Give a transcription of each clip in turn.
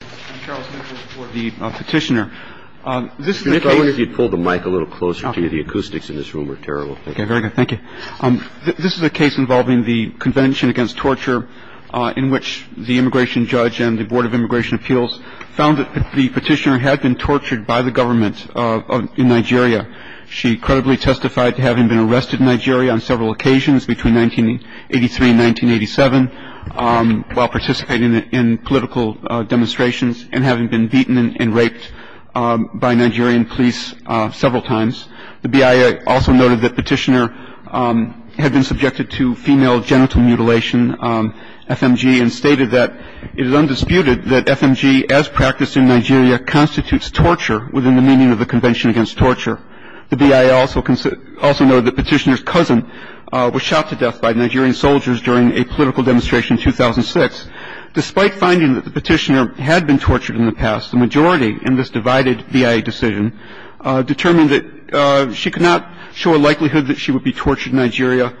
I'm Charles Mitchell for the Petitioner. This is a case involving the Convention Against Torture in which the immigration judge and the Board of Immigration Appeals found that the petitioner had been tortured by the government in Nigeria. She credibly testified to having been arrested in Nigeria on several occasions between 1983 and 1987 while participating in political demonstrations and having been beaten and raped by Nigerian police several times. The BIA also noted that Petitioner had been subjected to female genital mutilation, FMG, and stated that it is undisputed that FMG as practiced in Nigeria constitutes torture within the meaning of the Convention Against Torture. The BIA also noted that Petitioner's during a political demonstration in 2006. Despite finding that the petitioner had been tortured in the past, the majority in this divided BIA decision determined that she could not show a likelihood that she would be tortured in Nigeria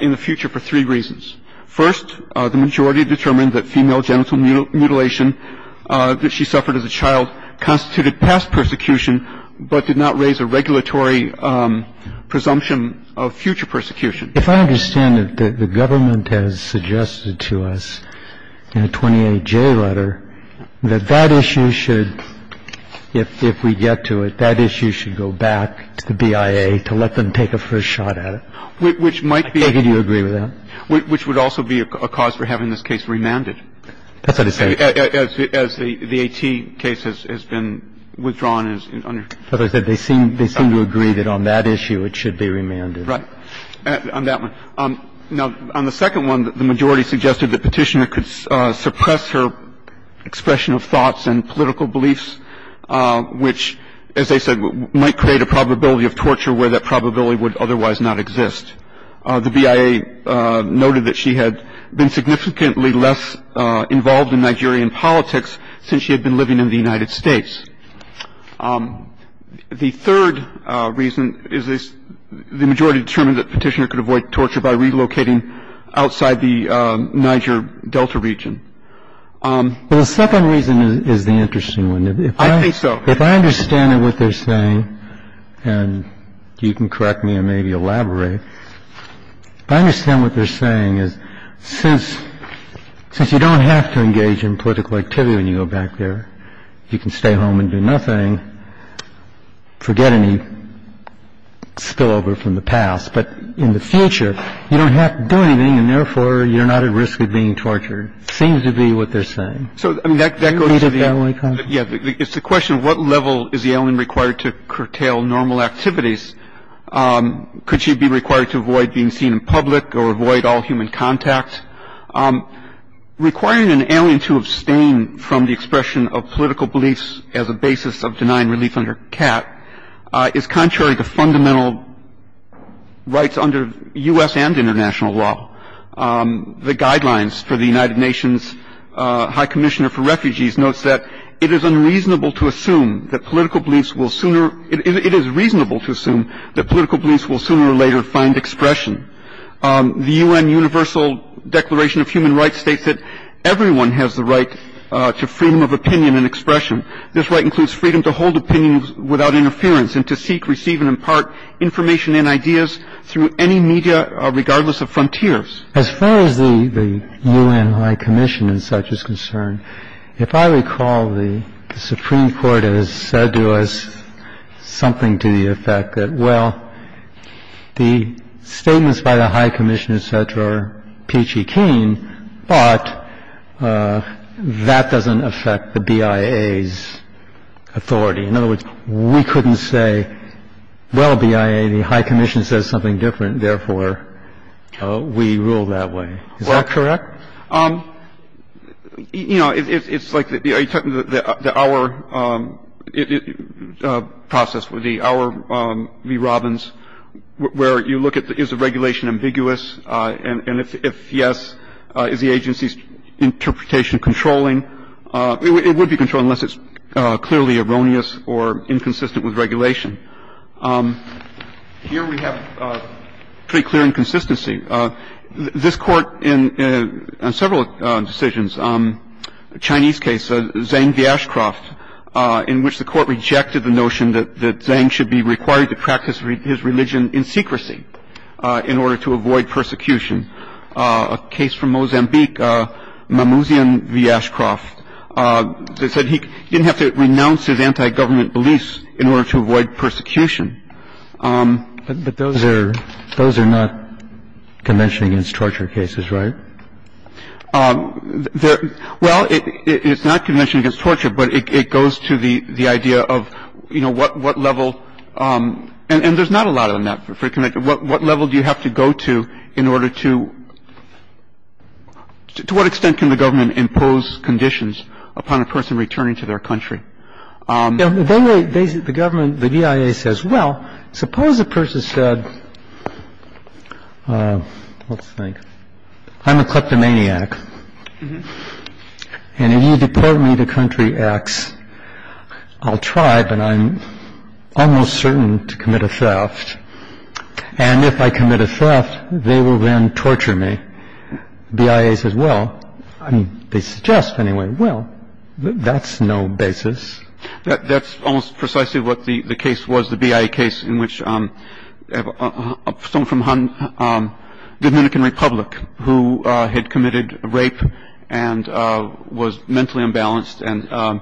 in the future for three reasons. First, the majority determined that female genital mutilation that she suffered as a child constituted past persecution but did not raise a regulatory presumption of future persecution. If I understand it, the government has suggested to us in a 28J letter that that issue should, if we get to it, that issue should go back to the BIA to let them take a first shot at it. Which might be. I think you would agree with that. Which would also be a cause for having this case remanded. That's what he's saying. As the AT case has been withdrawn. As I said, they seem to agree that on that issue it should be remanded. Right. On that one. Now, on the second one, the majority suggested the petitioner could suppress her expression of thoughts and political beliefs, which, as I said, might create a probability of torture where that probability would otherwise not exist. The BIA noted that she had been significantly less involved in Nigerian politics since she had been living in the United States. The third reason is the majority determined that Petitioner could avoid torture by relocating outside the Niger Delta region. Well, the second reason is the interesting one. I think so. If I understand what they're saying, and you can correct me and maybe elaborate, if I understand what they're saying is since you don't have to engage in political activity when you go back there, you can stay home and do nothing. Forget any spillover from the past. But in the future, you don't have to do anything. And therefore, you're not at risk of being tortured. Seems to be what they're saying. So I mean, that's the question. What level is the alien required to curtail normal activities? Could she be required to avoid being seen in public or avoid all human contact? Requiring an alien to abstain from the expression of political beliefs as a basis of denying relief under CAT is contrary to fundamental rights under U.S. and international law. The guidelines for the United Nations High Commissioner for Refugees notes that it is unreasonable to assume that political beliefs will sooner – it is reasonable to assume that political beliefs will sooner or later find expression. The U.N. Universal Declaration of Human Rights states that everyone has the right to freedom of opinion and expression. This right includes freedom to hold opinions without interference and to seek, receive, and impart information and ideas through any media, regardless of frontiers. As far as the U.N. High Commission and such is concerned, if I recall, the Supreme Court has said to us something to the effect that, well, the statements by the High Commission, et cetera, are peachy keen, but that doesn't affect the BIA's authority. In other words, we couldn't say, well, BIA, the High Commission says something different. Therefore, we rule that way. Is that correct? You know, it's like the hour process, the hour v. Robbins, where you look at, is the regulation ambiguous, and if yes, is the agency's interpretation controlling? It would be controlling unless it's clearly erroneous or inconsistent with regulation. Here we have pretty clear inconsistency. This Court, in several decisions, a Chinese case, Zhang Vyashkov, in which the Court rejected the notion that Zhang should be required to practice his religion in secrecy in order to avoid persecution. A case from Mozambique, Mamouzian Vyashkov, that said he didn't have to renounce his anti-government beliefs in order to avoid persecution. upon a person returning to their country in order to avoid persecution? But those are not convention against torture cases, right? Well, it's not convention against torture, but it goes to the idea of, you know, what level — and there's not a lot on that. What level do you have to go to in order to — to what extent can the government impose conditions upon a person returning to their country? The government, the DIA says, well, suppose a person said, let's think, I'm a kleptomaniac, and if you deport me to country X, I'll try, but I'm almost certain to commit a theft. And if I commit a theft, they will then torture me. The DIA says, well — they suggest, anyway — well, that's no basis. That's almost precisely what the case was, the DIA case, in which someone from Dominican Republic who had committed rape and was mentally imbalanced, and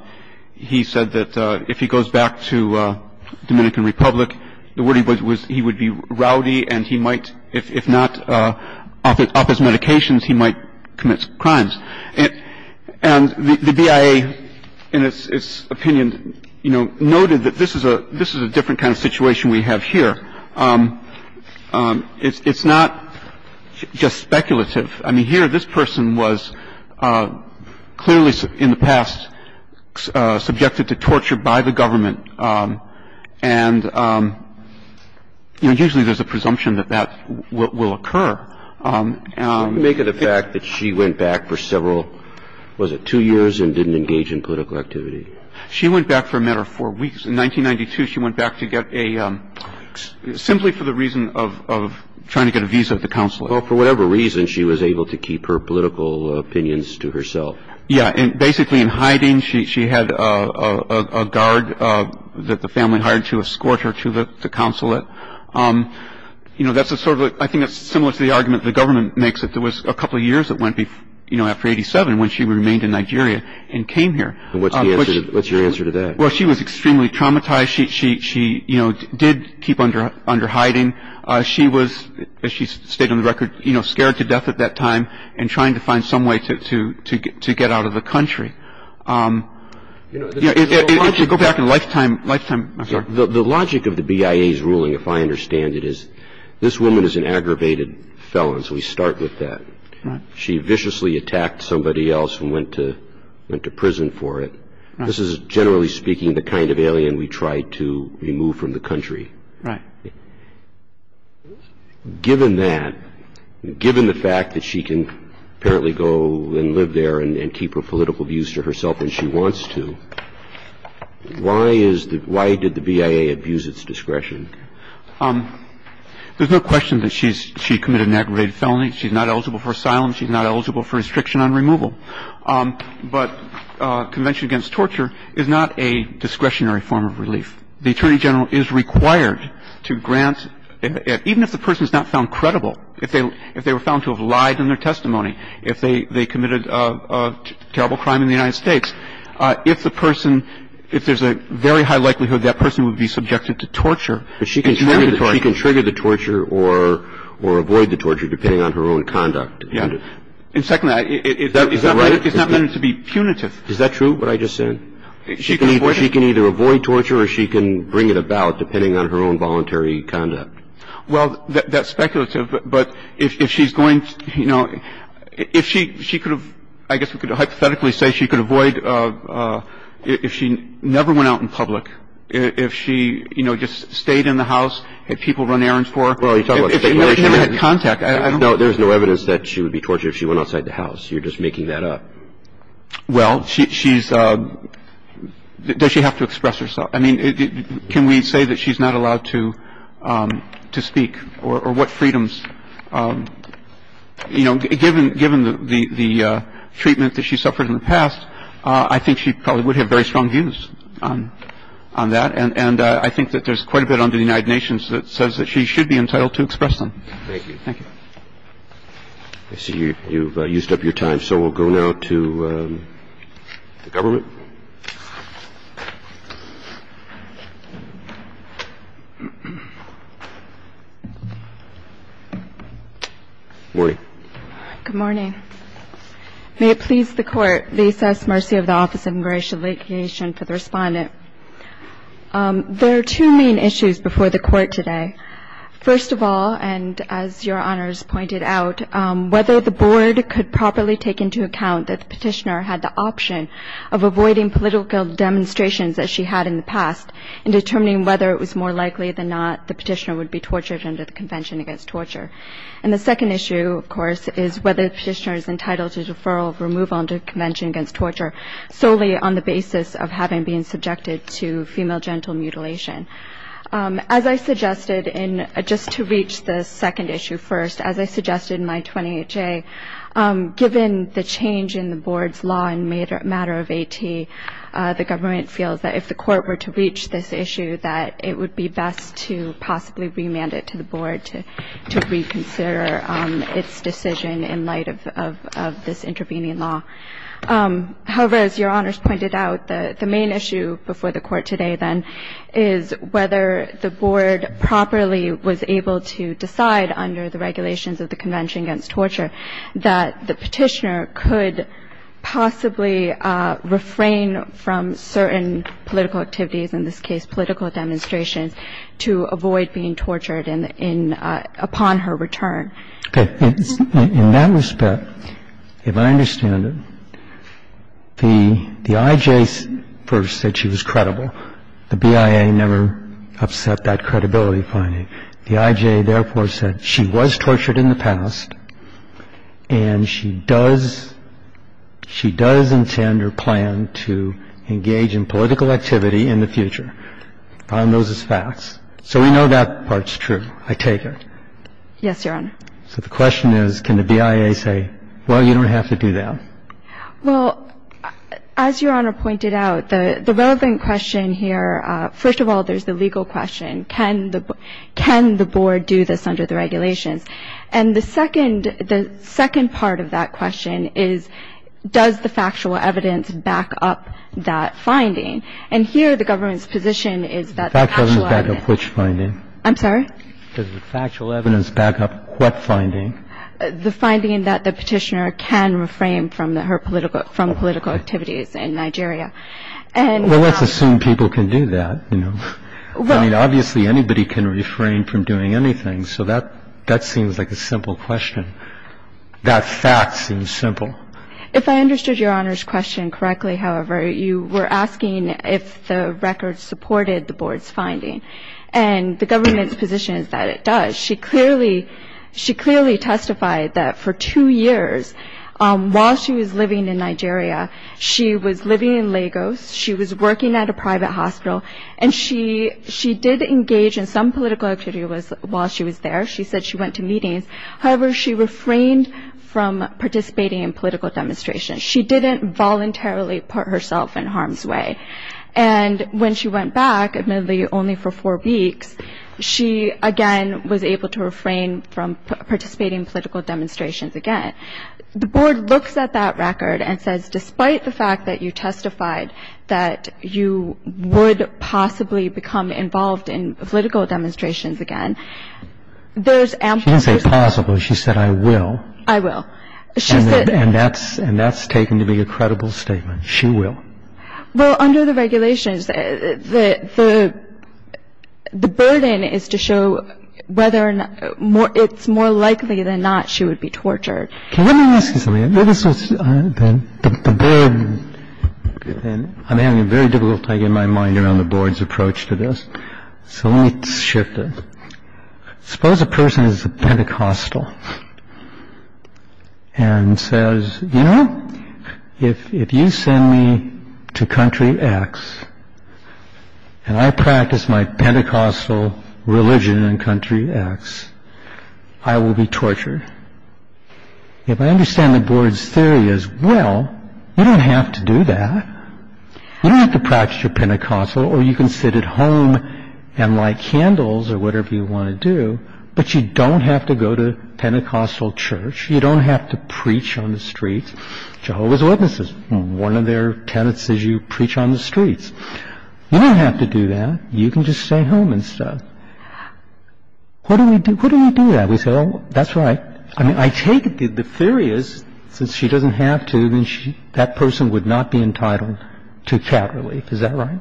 he said that if he goes back to Dominican Republic, the word he would — he would be rowdy, and he might — if not up his medications, he might commit crimes. And the DIA, in its opinion, you know, noted that this is a — this is a different kind of situation we have here. It's not just speculative. I mean, here, this person was clearly in the past subjected to torture by the government. And, you know, usually there's a presumption that that will occur. And — Make it a fact that she went back for several — was it two years and didn't engage in political activity? She went back for a matter of four weeks. In 1992, she went back to get a — simply for the reason of trying to get a visa at the consulate. Well, for whatever reason, she was able to keep her political opinions to herself. Yeah. And basically in hiding, she had a guard that the family hired to escort her to the consulate. You know, that's a sort of — I think that's similar to the argument the government makes, that there was a couple of years that went before — you know, after 87, when she remained in Nigeria and came here. And what's the answer — what's your answer to that? Well, she was extremely traumatized. She, you know, did keep under hiding. She was, as she's stated on the record, you know, scared to death at that time and trying to find some way to get out of the country. You know, there's a whole logic — Go back in a lifetime — lifetime — I'm sorry. The logic of the BIA's ruling, if I understand it, is this woman is an aggravated felon. So we start with that. She viciously attacked somebody else and went to prison for it. This is, generally speaking, the kind of alien we try to remove from the country. Right. Given that, given the fact that she can apparently go and live there and keep her political views to herself when she wants to, why is the — why did the BIA abuse its discretion? There's no question that she's — she committed an aggravated felony. She's not eligible for asylum. She's not eligible for restriction on removal. But convention against torture is not a discretionary form of relief. The attorney general is required to grant — even if the person is not found credible, if they were found to have lied in their testimony, if they committed a terrible crime in the United States, if the person — if there's a very high likelihood that person would be subjected to torture — But she can trigger the torture or avoid the torture, depending on her own conduct. Yeah. And secondly, it's not meant to be punitive. Is that true, what I just said? She can avoid it. She can either avoid torture or she can bring it about, depending on her own voluntary conduct. Well, that's speculative. But if she's going — you know, if she — she could have — I guess we could hypothetically say she could avoid — if she never went out in public, if she, you know, just stayed in the house, had people run errands for her — Well, you're talking about — If she never had contact, I don't — No, there's no evidence that she would be tortured if she went outside the house. You're just making that up. Well, she's — does she have to express herself? I mean, can we say that she's not allowed to speak? Or what freedoms? You know, given the treatment that she suffered in the past, I think she probably would have very strong views on that. And I think that there's quite a bit under the United Nations that says that she should be entitled to express them. Thank you. Thank you. I see you've used up your time. So we'll go now to the government. Morning. Good morning. May it please the Court, the excess mercy of the Office of Immigration and Vacation for the Respondent. There are two main issues before the Court today. First of all, and as Your Honors pointed out, whether the Board could properly take into account that the petitioner had the option of avoiding political demonstrations that she had in the past in determining whether it was more likely than not the petitioner would be tortured under the Convention Against Torture. And the second issue, of course, is whether the petitioner is entitled to deferral or move on to the Convention Against Torture solely on the basis of having been subjected to female genital mutilation. As I suggested, just to reach the second issue first, as I suggested in my 28-J, given the change in the Board's law in a matter of AT, the government feels that if the Court were to reach this issue, that it would be best to possibly remand it to the Board to reconsider its decision in light of this intervening law. However, as Your Honors pointed out, the main issue before the Court today, then, is whether the Board properly was able to decide under the regulations of the Convention Against Torture that the petitioner could possibly refrain from certain political activities, in this case political demonstrations, to avoid being tortured upon her return. In that respect, if I understand it, the IJ first said she was credible. The BIA never upset that credibility finding. The IJ, therefore, said she was tortured in the past and she does intend or plan to engage in political activity in the future. I find those as facts. So we know that part's true. I take it. Yes, Your Honor. So the question is, can the BIA say, well, you don't have to do that? Well, as Your Honor pointed out, the relevant question here, first of all, there's the legal question. Can the Board do this under the regulations? And the second part of that question is, does the factual evidence back up that finding? And here, the government's position is that the factual evidence back up which finding? I'm sorry? Does the factual evidence back up what finding? The finding that the Petitioner can refrain from her political activities in Nigeria. And- Well, let's assume people can do that. I mean, obviously, anybody can refrain from doing anything. So that seems like a simple question. That fact seems simple. If I understood Your Honor's question correctly, however, you were asking if the record supported the Board's finding. And the government's position is that it does. She clearly testified that for two years, while she was living in Nigeria, she was living in Lagos. She was working at a private hospital. And she did engage in some political activities while she was there. She said she went to meetings. However, she refrained from participating in political demonstrations. She didn't voluntarily put herself in harm's way. And when she went back, admittedly only for four weeks, she again was able to refrain from participating in political demonstrations again. The Board looks at that record and says, despite the fact that you testified that you would possibly become involved in political demonstrations again, there's ample- She didn't say possible. She said, I will. I will. She said- And that's taken to be a credible statement. She will. Well, under the regulations, the burden is to show whether or not it's more likely than not she would be tortured. Can I ask you something? This is the burden. And I'm having a very difficult time getting my mind around the Board's approach to this. So let me shift it. Suppose a person is a Pentecostal and says, you know, if you send me to country X and I practice my Pentecostal religion in country X, I will be tortured. If I understand the Board's theory as well, you don't have to do that. You don't have to practice your Pentecostal or you can sit at home and light candles or whatever you want to do, but you don't have to go to Pentecostal church. You don't have to preach on the streets. Jehovah's Witnesses, one of their tenants says you preach on the streets. You don't have to do that. You can just stay home and stuff. What do we do? What do we do that? We say, oh, that's right. I mean, I take it that the theory is since she doesn't have to, then that person would not be entitled to cat relief. Is that right?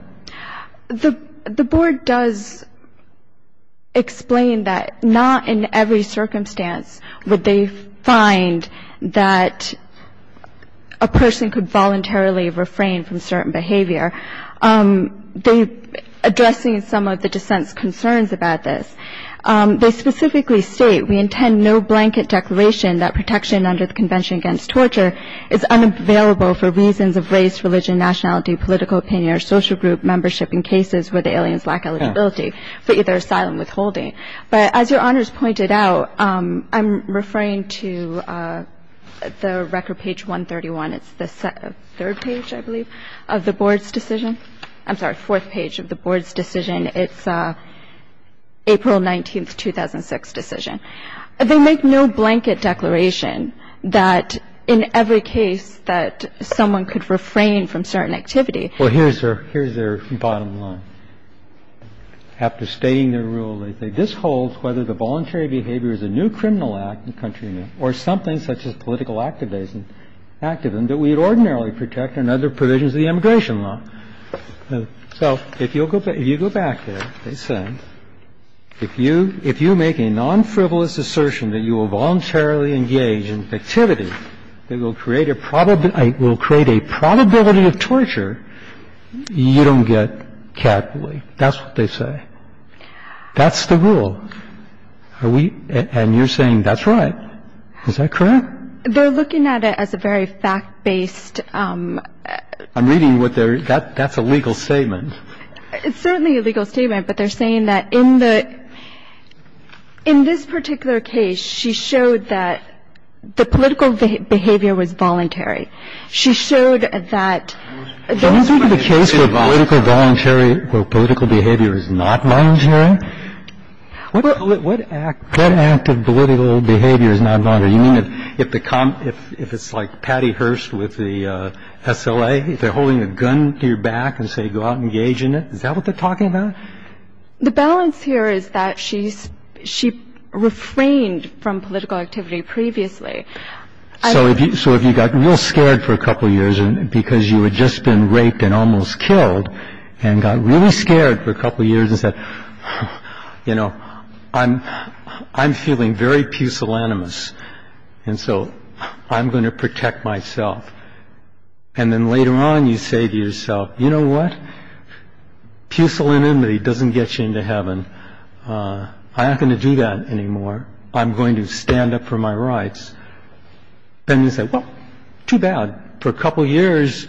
The Board does explain that not in every circumstance would they find that a person could voluntarily refrain from certain behavior. They, addressing some of the dissent's concerns about this, they specifically state, we intend no blanket declaration that protection under the Convention against Torture is unavailable for reasons of race, religion, nationality, political opinion or social group membership in cases where the aliens lack eligibility for either asylum withholding. But as your honors pointed out, I'm referring to the record page 131. It's the third page, I believe, of the Board's decision. I'm sorry, fourth page of the Board's decision. It's April 19th, 2006 decision. They make no blanket declaration that in every case that someone could refrain from certain activity. Well, here's their bottom line. After stating their rule, they say, this holds whether the voluntary behavior is a new criminal act in the country or something such as political activism that we would ordinarily protect under the provisions of the immigration law. So if you go back there, they say, if you make a non-frivolous assertion that you will voluntarily engage in activity that will create a probability of torture, you don't get catapulted. That's what they say. That's the rule. Are we — and you're saying that's right. Is that correct? They're looking at it as a very fact-based — I'm reading what they're — that's a legal statement. It's certainly a legal statement, but they're saying that in the — in this particular case, she showed that the political behavior was voluntary. She showed that — Don't you think the case for political voluntary — for political behavior is not voluntary? What act — that act of political behavior is not voluntary? You mean if the — if it's like Patty Hearst with the SLA, if they're holding a gun to your back and say, go out and engage in it, is that what they're talking about? The balance here is that she's — she refrained from political activity previously. So if you — so if you got real scared for a couple years because you had just been raped and almost killed and got really scared for a couple years and said, you know, I'm feeling very pusillanimous, and so I'm going to protect myself, and then later on you say to yourself, you know what, pusillanimity doesn't get you into heaven, I'm not going to do that anymore, I'm going to stand up for my rights, then you say, well, too bad. For a couple years,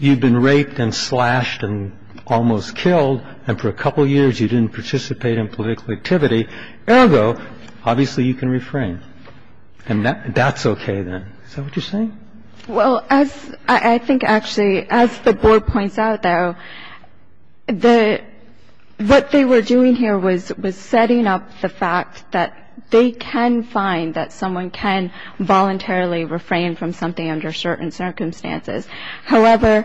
you've been raped and slashed and almost killed, and for a couple years, you didn't participate in political activity, ergo, obviously you can refrain. And that's OK, then. Is that what you're saying? Well, as I think actually, as the board points out, though, the — what they were doing here was setting up the fact that they can find that someone can voluntarily refrain from something under certain circumstances. However,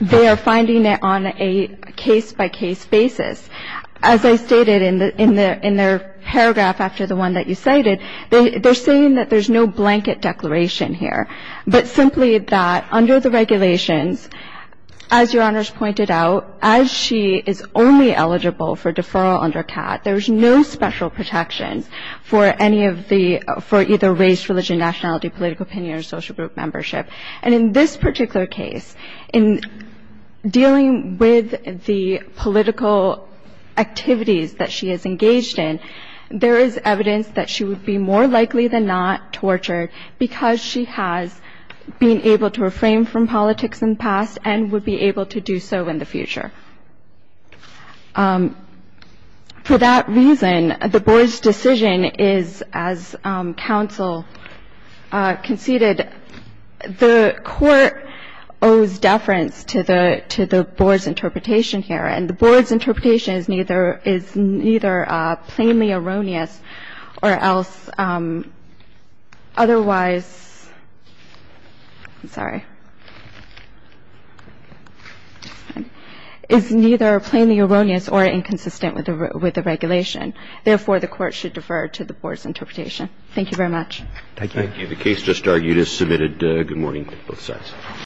they are finding it on a case-by-case basis. As I stated in their paragraph after the one that you cited, they're saying that there's no blanket declaration here, but simply that under the regulations, as Your Honors pointed out, as she is only eligible for deferral under CAT, there's no special protection for any of the — for either race, religion, nationality, political opinion, or social group membership. And in this particular case, in dealing with the political activities that she is engaged in, there is evidence that she would be more likely than not tortured because she has been able to refrain from politics in the past and would be able to do so in the future. For that reason, the board's decision is, as counsel conceded, the court owes deference to the — to the board's interpretation here. And the board's interpretation is neither — is neither plainly erroneous or else otherwise — I'm sorry — is neither plainly erroneous or inconsistent with the regulation. Therefore, the court should defer to the board's interpretation. Thank you very much. Thank you. Thank you. The case just argued is submitted. Good morning to both sides.